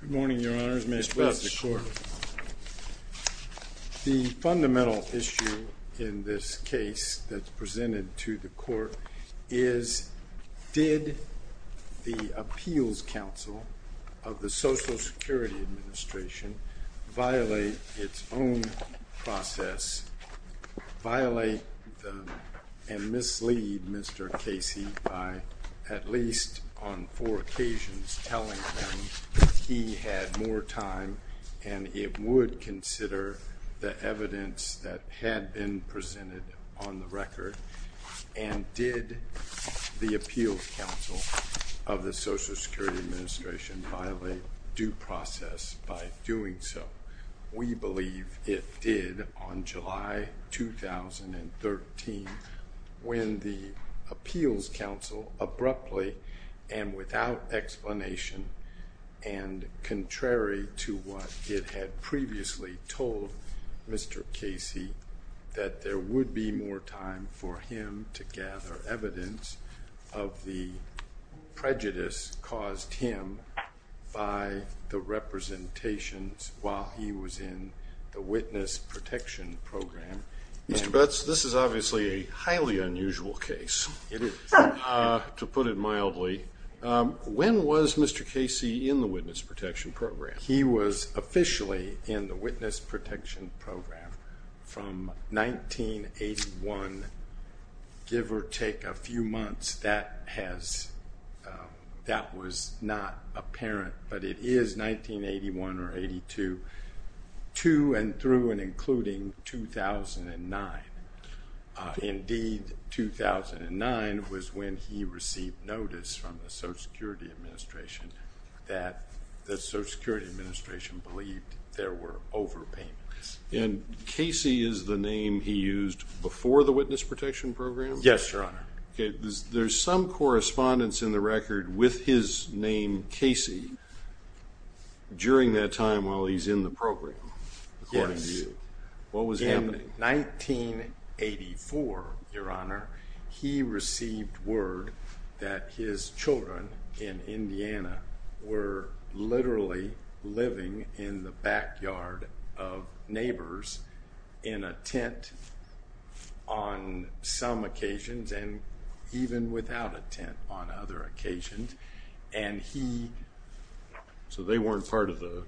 Good morning, Your Honors. The fundamental issue in this case that's presented to the Court is, did the Appeals Council of the Social Security Administration violate its own process, violate and mislead Mr. Casey by at least on four occasions telling him that he was wrong? If he had more time and it would consider the evidence that had been presented on the record, and did the Appeals Council of the Social Security Administration violate due process by doing so? We believe it did on July 2013 when the Appeals Council abruptly and without explanation and contrary to what it had previously told Mr. Casey that there would be more time for him to gather evidence of the prejudice caused him by the representations while he was in the Witness Protection Program. Mr. Butts, this is obviously a highly unusual case. It is. To put it mildly, when was Mr. Casey in the Witness Protection Program? He was officially in the Witness Protection Program from 1981, give or take a few months, that was not apparent, but it is 1981 or 82, to and through and including 2009. Indeed, 2009 was when he received notice from the Social Security Administration that the Social Security Administration believed there were overpayments. And Casey is the name he used before the Witness Protection Program? Yes, Your Honor. There's some correspondence in the record with his name Casey during that time while he's in the program, according to you. Yes. What was happening? In 1984, Your Honor, he received word that his children in Indiana were literally living in the backyard of neighbors in a tent on some occasions and even without a tent on other occasions. And he... So they weren't part of the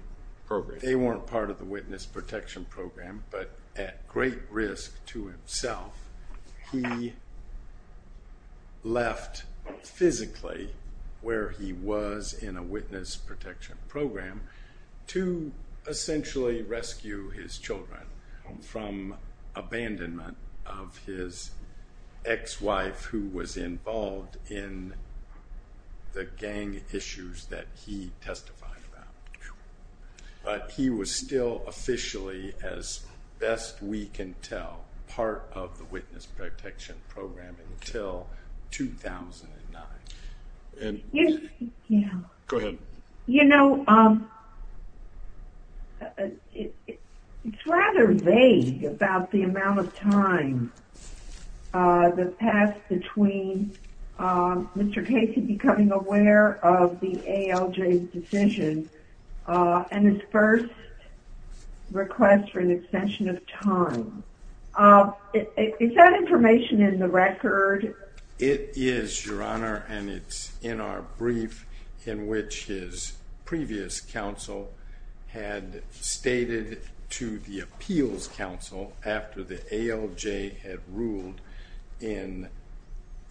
program? But at great risk to himself, he left physically where he was in a Witness Protection Program to essentially rescue his children from abandonment of his ex-wife who was involved in the gang issues that he testified about. But he was still officially, as best we can tell, part of the Witness Protection Program until 2009. Go ahead. You know, it's rather vague about the amount of time that passed between Mr. Casey becoming aware of the ALJ's decision and his first request for an extension of time. Is that information in the record? It is, Your Honor, and it's in our brief in which his previous counsel had stated to the appeals counsel after the ALJ had ruled in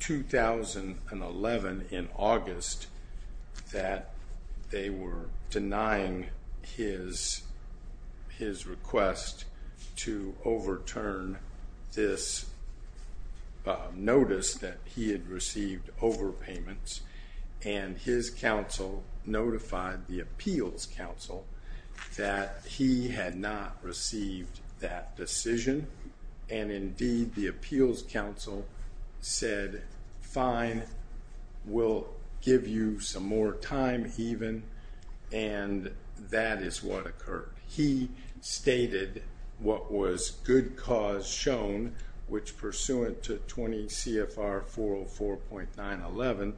2011 in August that they were denying his request to overturn this notice. That he had received overpayments, and his counsel notified the appeals counsel that he had not received that decision. And indeed, the appeals counsel said, fine, we'll give you some more time even, and that is what occurred. He stated what was good cause shown, which pursuant to 20 CFR 404.911,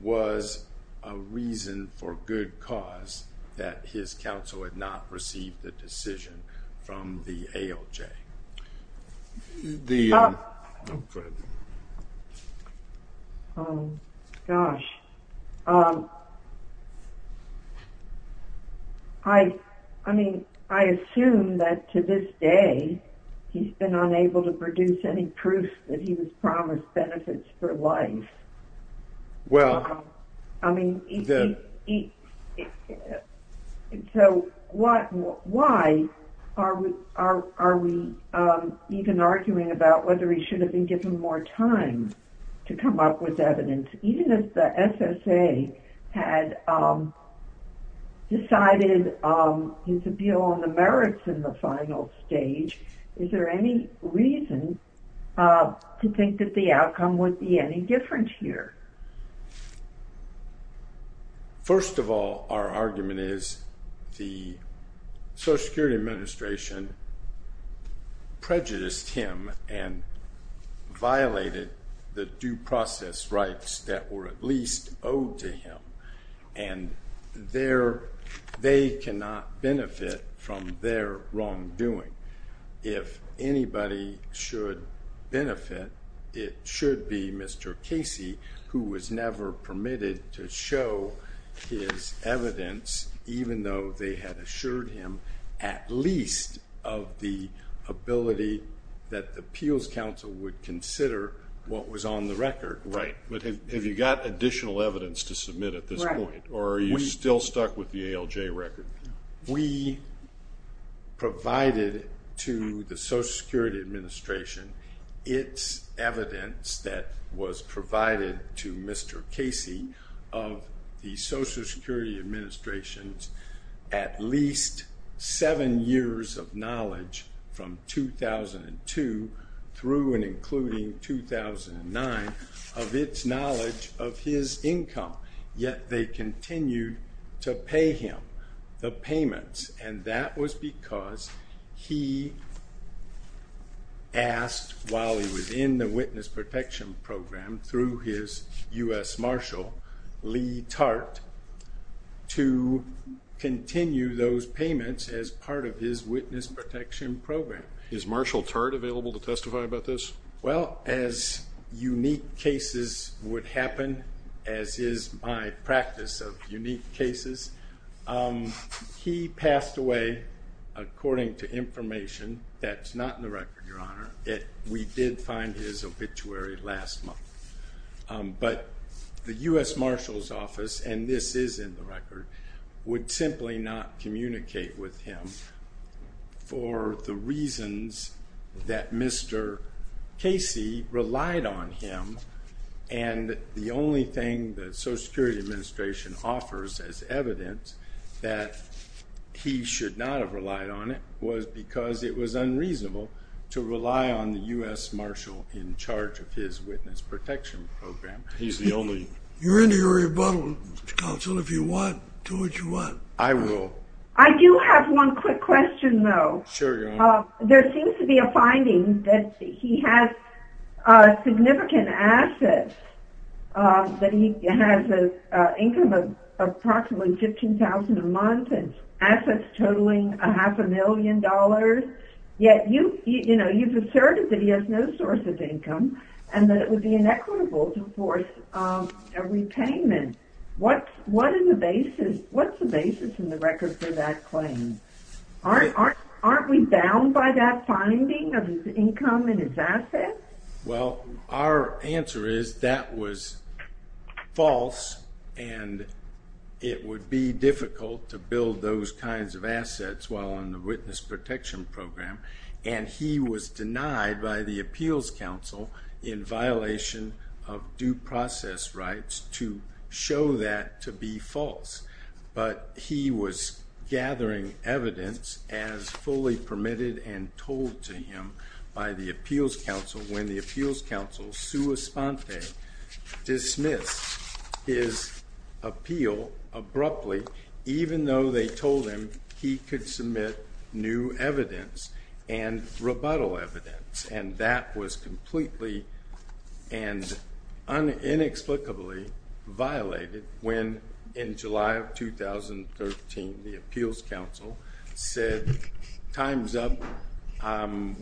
was a reason for good cause that his counsel had not received the decision from the ALJ. The... Go ahead. Oh, gosh. I mean, I assume that to this day he's been unable to produce any proof that he was promised benefits for life. Well, then... So, why are we even arguing about whether he should have been given more time to come up with evidence? Even if the SSA had decided his appeal on the merits in the final stage, is there any reason to think that the outcome would be any different here? First of all, our argument is the Social Security Administration prejudiced him and violated the due process rights that were at least owed to him. And they cannot benefit from their wrongdoing. If anybody should benefit, it should be Mr. Casey, who was never permitted to show his evidence, even though they had assured him at least of the ability that the appeals counsel would consider what was on the record. Right. But have you got additional evidence to submit at this point? Right. Or are you still stuck with the ALJ record? We provided to the Social Security Administration its evidence that was provided to Mr. Casey of the Social Security Administration's at least seven years of knowledge from 2002 through and including 2009 of its knowledge of his income. Yet, they continued to pay him the payments. And that was because he asked, while he was in the Witness Protection Program, through his U.S. Marshal, Lee Tart, to continue those payments as part of his Witness Protection Program. Is Marshal Tart available to testify about this? Well, as unique cases would happen, as is my practice of unique cases, he passed away, according to information that's not in the record, Your Honor. We did find his obituary last month. But the U.S. Marshal's office, and this is in the record, would simply not communicate with him for the reasons that Mr. Casey relied on him. And the only thing the Social Security Administration offers as evidence that he should not have relied on it was because it was unreasonable to rely on the U.S. Marshal in charge of his Witness Protection Program. He's the only... You're in the Rebuttal Council. If you want, do what you want. I will. I do have one quick question, though. Sure, Your Honor. There seems to be a finding that he has significant assets, that he has an income of approximately $15,000 a month and assets totaling a half a million dollars. Yet you've asserted that he has no source of income and that it would be inequitable to force a repayment. What's the basis in the record for that claim? Aren't we bound by that finding of his income and his assets? Well, our answer is that was false and it would be difficult to build those kinds of assets while on the Witness Protection Program. And he was denied by the Appeals Council in violation of due process rights to show that to be false. But he was gathering evidence as fully permitted and told to him by the Appeals Council when the Appeals Council, sua sponte, dismissed his appeal abruptly, even though they told him he could submit new evidence and rebuttal evidence. And that was completely and inexplicably violated when, in July of 2013, the Appeals Council said, time's up,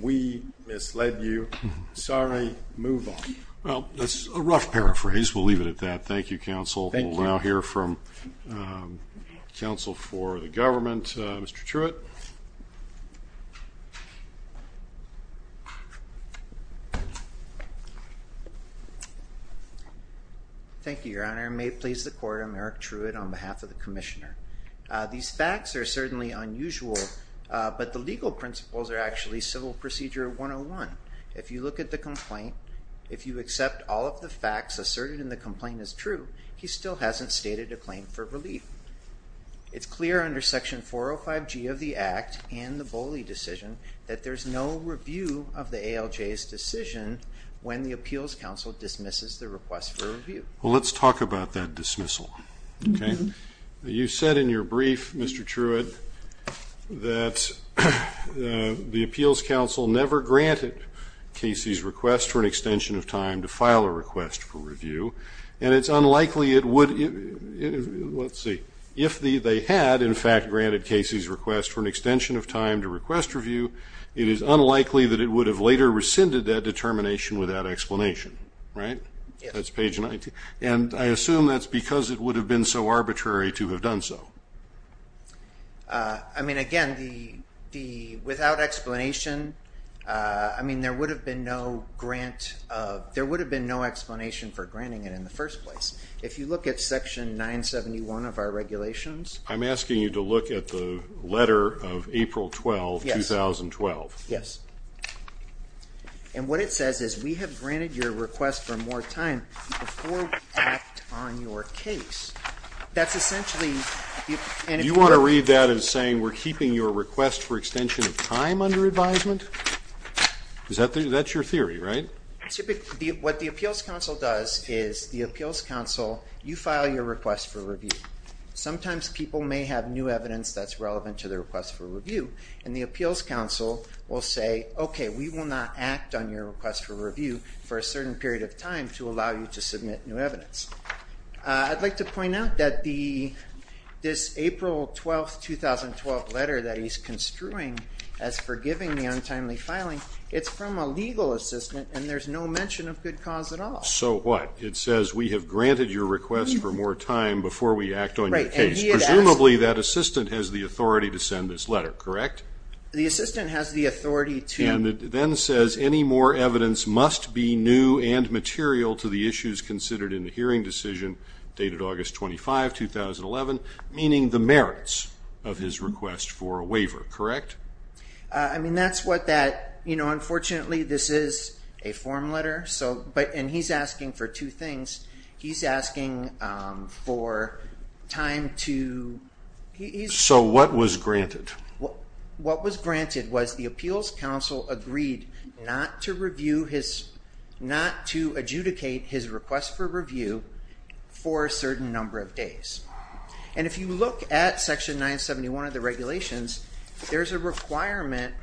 we misled you, sorry, move on. Well, that's a rough paraphrase. We'll leave it at that. Thank you, counsel. Thank you. We'll now hear from counsel for the government, Mr. Truitt. Thank you, Your Honor. May it please the Court, I'm Eric Truitt on behalf of the Commissioner. These facts are certainly unusual, but the legal principles are actually Civil Procedure 101. If you look at the complaint, if you accept all of the facts asserted in the complaint as true, he still hasn't stated a claim for relief. It's clear under Section 405G of the Act and the Boley decision that there's no review of the ALJ's decision when the Appeals Council dismisses the request for review. Well, let's talk about that dismissal, okay? You said in your brief, Mr. Truitt, that the Appeals Council never granted Casey's request for an extension of time to file a request for review, and it's unlikely it would, let's see, if they had, in fact, granted Casey's request for an extension of time to request review, it is unlikely that it would have later rescinded that determination without explanation, right? That's page 19. And I assume that's because it would have been so arbitrary to have done so. I mean, again, without explanation, I mean, there would have been no grant, there would have been no explanation for granting it in the first place. If you look at Section 971 of our regulations. I'm asking you to look at the letter of April 12, 2012. Yes. And what it says is we have granted your request for more time before we act on your case. That's essentially... Do you want to read that as saying we're keeping your request for extension of time under advisement? That's your theory, right? What the Appeals Council does is the Appeals Council, you file your request for review. Sometimes people may have new evidence that's relevant to their request for review, and the Appeals Council will say, okay, we will not act on your request for review for a certain period of time to allow you to submit new evidence. I'd like to point out that this April 12, 2012 letter that he's construing as forgiving the untimely filing, it's from a legal assistant, and there's no mention of good cause at all. So what? It says we have granted your request for more time before we act on your case. Right, and he had asked... Correct. The assistant has the authority to... And it then says any more evidence must be new and material to the issues considered in the hearing decision dated August 25, 2011, meaning the merits of his request for a waiver, correct? I mean, that's what that, you know, unfortunately this is a form letter, and he's asking for two things. He's asking for time to... So what was granted? What was granted was the Appeals Council agreed not to adjudicate his request for review for a certain number of days. And if you look at Section 971 of the regulations, there's a requirement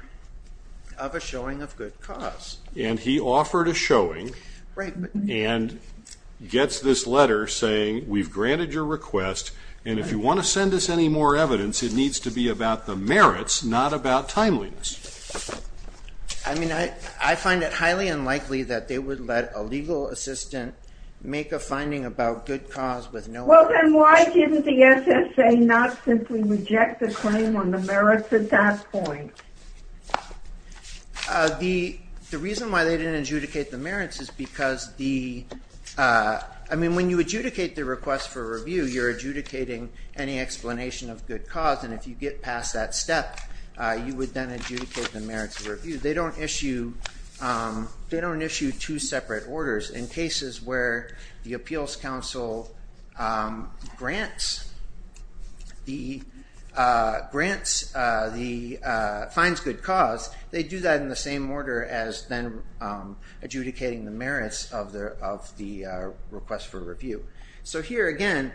of a showing of good cause. And he offered a showing and gets this letter saying we've granted your request, and if you want to send us any more evidence, it needs to be about the merits, not about timeliness. I mean, I find it highly unlikely that they would let a legal assistant make a finding about good cause with no evidence. Well, then why didn't the SSA not simply reject the claim on the merits at that point? The reason why they didn't adjudicate the merits is because the... they're not adjudicating any explanation of good cause, and if you get past that step, you would then adjudicate the merits of review. They don't issue two separate orders. In cases where the Appeals Council grants the... finds good cause, they do that in the same order as then adjudicating the merits of the request for review. So here again,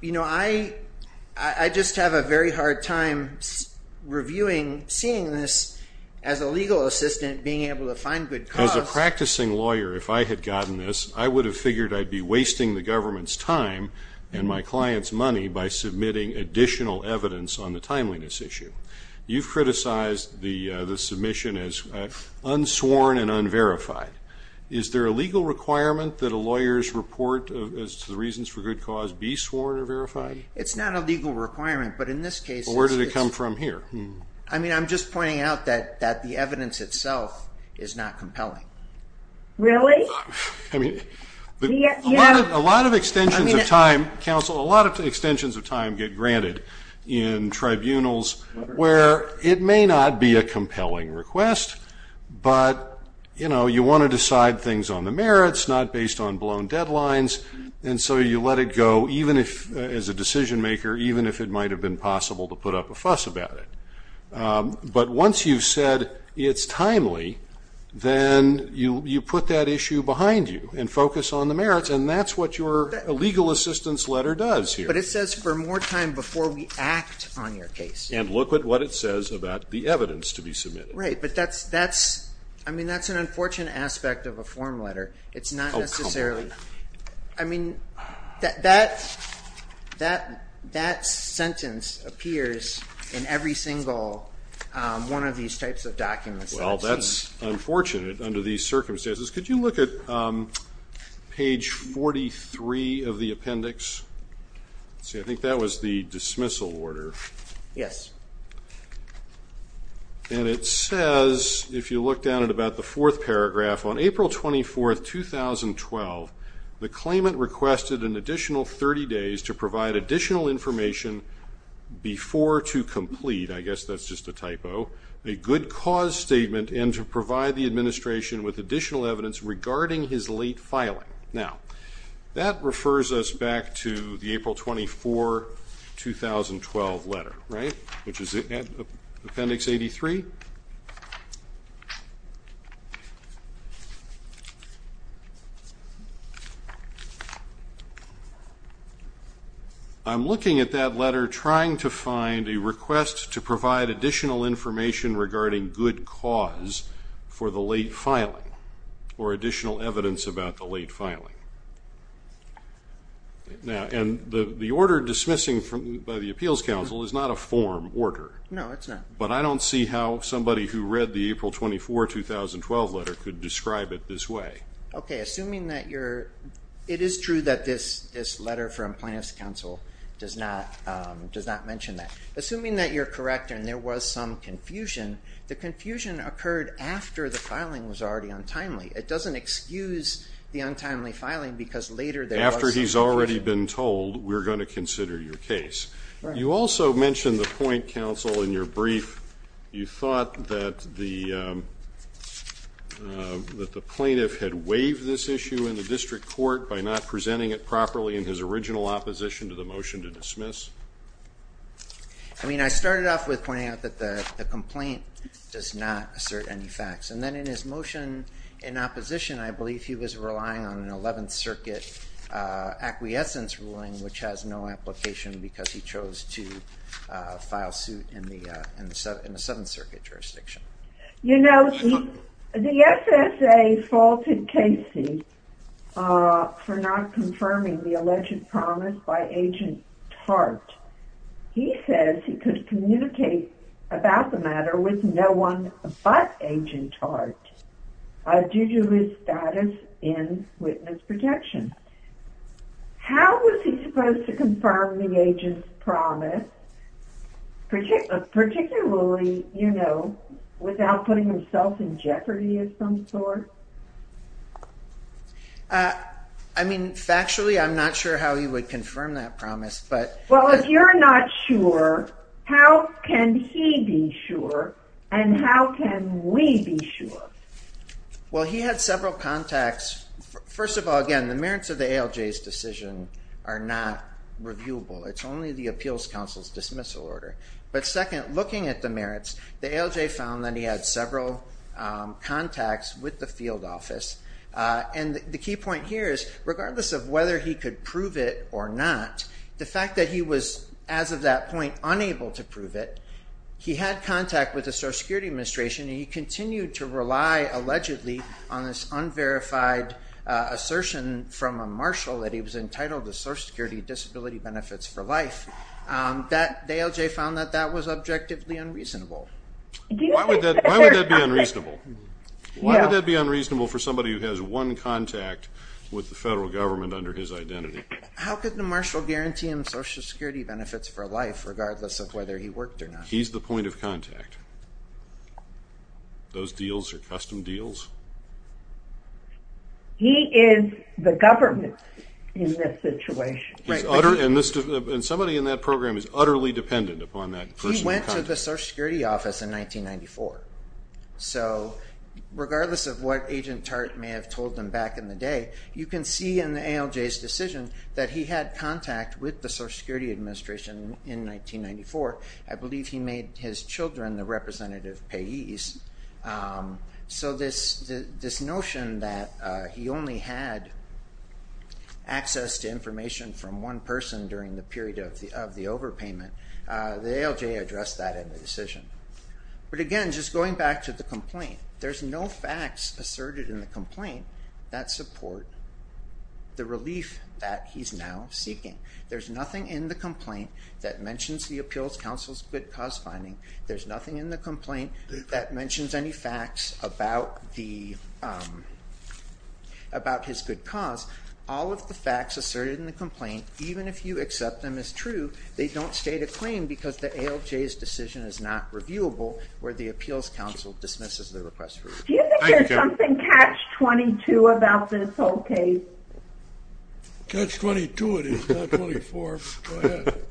you know, I just have a very hard time reviewing, seeing this as a legal assistant being able to find good cause. As a practicing lawyer, if I had gotten this, I would have figured I'd be wasting the government's time and my client's money by submitting additional evidence on the timeliness issue. You've criticized the submission as unsworn and unverified. Is there a legal requirement that a lawyer's report as to the reasons for good cause be sworn or verified? It's not a legal requirement, but in this case... Well, where did it come from here? I mean, I'm just pointing out that the evidence itself is not compelling. Really? I mean, a lot of extensions of time, counsel, a lot of extensions of time get granted in tribunals where it may not be a compelling request, but, you know, you want to decide things on the merits, not based on blown deadlines, and so you let it go, even if, as a decision maker, even if it might have been possible to put up a fuss about it. But once you've said it's timely, then you put that issue behind you and focus on the merits, and that's what your legal assistance letter does here. But it says for more time before we act on your case. And look at what it says about the evidence to be submitted. Right, but that's an unfortunate aspect of a form letter. It's not necessarily... Oh, come on. I mean, that sentence appears in every single one of these types of documents that I've seen. Well, that's unfortunate under these circumstances. Could you look at page 43 of the appendix? See, I think that was the dismissal order. Yes. And it says, if you look down at about the fourth paragraph, on April 24, 2012, the claimant requested an additional 30 days to provide additional information before to complete, I guess that's just a typo, a good cause statement, and to provide the administration with additional evidence regarding his late filing. Now, that refers us back to the April 24, 2012 letter, right, which is appendix 83. Thank you. I'm looking at that letter trying to find a request to provide additional information regarding good cause for the late filing or additional evidence about the late filing. And the order dismissing by the Appeals Council is not a form order. No, it's not. But I don't see how somebody who read the April 24, 2012 letter could describe it this way. Okay, assuming that you're, it is true that this letter from Plaintiff's Counsel does not mention that. Assuming that you're correct and there was some confusion, the confusion occurred after the filing was already untimely. It doesn't excuse the untimely filing because later there was some confusion. After he's already been told, we're going to consider your case. You also mentioned the point, Counsel, in your brief. You thought that the plaintiff had waived this issue in the district court by not presenting it properly in his original opposition to the motion to dismiss. I mean, I started off with pointing out that the complaint does not assert any facts. And then in his motion in opposition, I believe he was relying on an 11th Circuit acquiescence ruling, which has no application because he chose to file suit in the 7th Circuit jurisdiction. You know, the SSA faulted Casey for not confirming the alleged promise by Agent Tart. He says he could communicate about the matter with no one but Agent Tart due to his status in witness protection. How was he supposed to confirm the agent's promise, particularly, you know, without putting himself in jeopardy of some sort? I mean, factually, I'm not sure how he would confirm that promise. Well, if you're not sure, how can he be sure and how can we be sure? Well, he had several contacts. First of all, again, the merits of the ALJ's decision are not reviewable. It's only the Appeals Counsel's dismissal order. But second, looking at the merits, the ALJ found that he had several contacts with the field office. And the key point here is, regardless of whether he could prove it or not, the fact that he was, as of that point, unable to prove it, he had contact with the Social Security Administration and he continued to rely, allegedly, on this unverified assertion from a marshal that he was entitled to Social Security Disability Benefits for Life. The ALJ found that that was objectively unreasonable. Why would that be unreasonable? Why would that be unreasonable for somebody who has one contact with the federal government under his identity? How could the marshal guarantee him Social Security Benefits for Life, regardless of whether he worked or not? He's the point of contact. Those deals are custom deals. He is the government in this situation. And somebody in that program is utterly dependent upon that person. He went to the Social Security Office in 1994. So, regardless of what Agent Tartt may have told them back in the day, you can see in the ALJ's decision that he had contact with the Social Security Administration in 1994. I believe he made his children the representative payees. So this notion that he only had access to information from one person during the period of the overpayment, the ALJ addressed that in the decision. There's no facts asserted in the complaint that support the relief that he's now seeking. There's nothing in the complaint that mentions the Appeals Council's good cause finding. There's nothing in the complaint that mentions any facts about his good cause. All of the facts asserted in the complaint, even if you accept them as true, they don't state a claim because the ALJ's decision is not reviewable, where the Appeals Council dismisses the request for review. Do you think there's something catch-22 about this whole case? Catch-22 it is, not 24. Go ahead.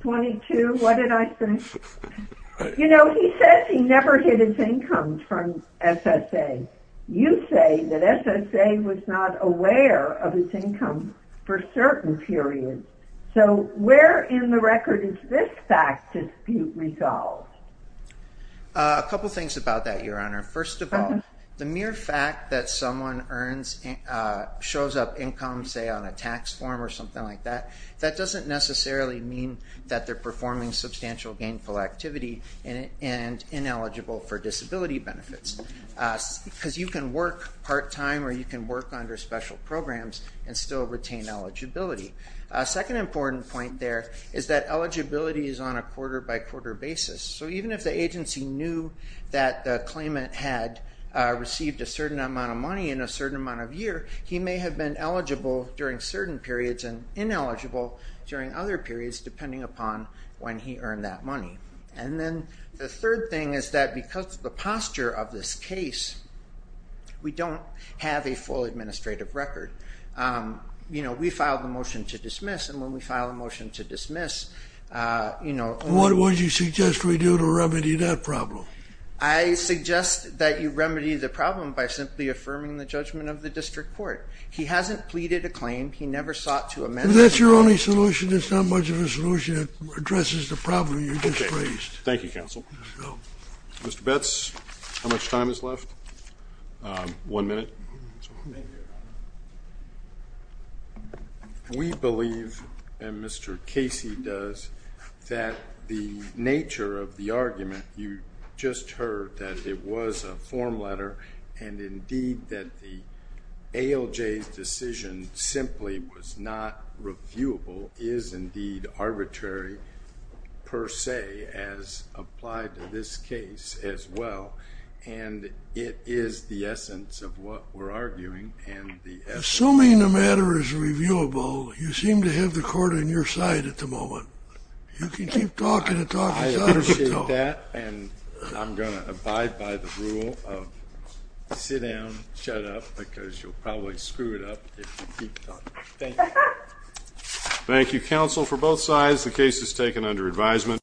22, what did I say? You know, he says he never hid his income from SSA. You say that SSA was not aware of his income for certain periods. So where in the record is this fact dispute resolved? A couple things about that, Your Honor. First of all, the mere fact that someone shows up income, say, on a tax form or something like that, that doesn't necessarily mean that they're performing substantial gainful activity and ineligible for disability benefits, because you can work part-time or you can work under special programs and still retain eligibility. A second important point there is that eligibility is on a quarter-by-quarter basis. So even if the agency knew that the claimant had received a certain amount of money in a certain amount of year, he may have been eligible during certain periods and ineligible during other periods, depending upon when he earned that money. And then the third thing is that because of the posture of this case, we don't have a full administrative record. We filed a motion to dismiss, and when we file a motion to dismiss, What would you suggest we do to remedy that problem? I suggest that you remedy the problem by simply affirming the judgment of the district court. He hasn't pleaded a claim. He never sought to amend the claim. If that's your only solution, it's not much of a solution. It addresses the problem you just raised. Thank you, counsel. Mr. Betz, how much time is left? One minute. We believe, and Mr. Casey does, that the nature of the argument you just heard, that it was a form letter, and indeed that the ALJ's decision simply was not reviewable, is indeed arbitrary per se, as applied to this case as well. And it is the essence of what we're arguing. Assuming the matter is reviewable, you seem to have the court on your side at the moment. You can keep talking and talking. I appreciate that, and I'm going to abide by the rule of sit down, shut up, because you'll probably screw it up if you keep talking. Thank you. Thank you, counsel. For both sides, the case is taken under advisement.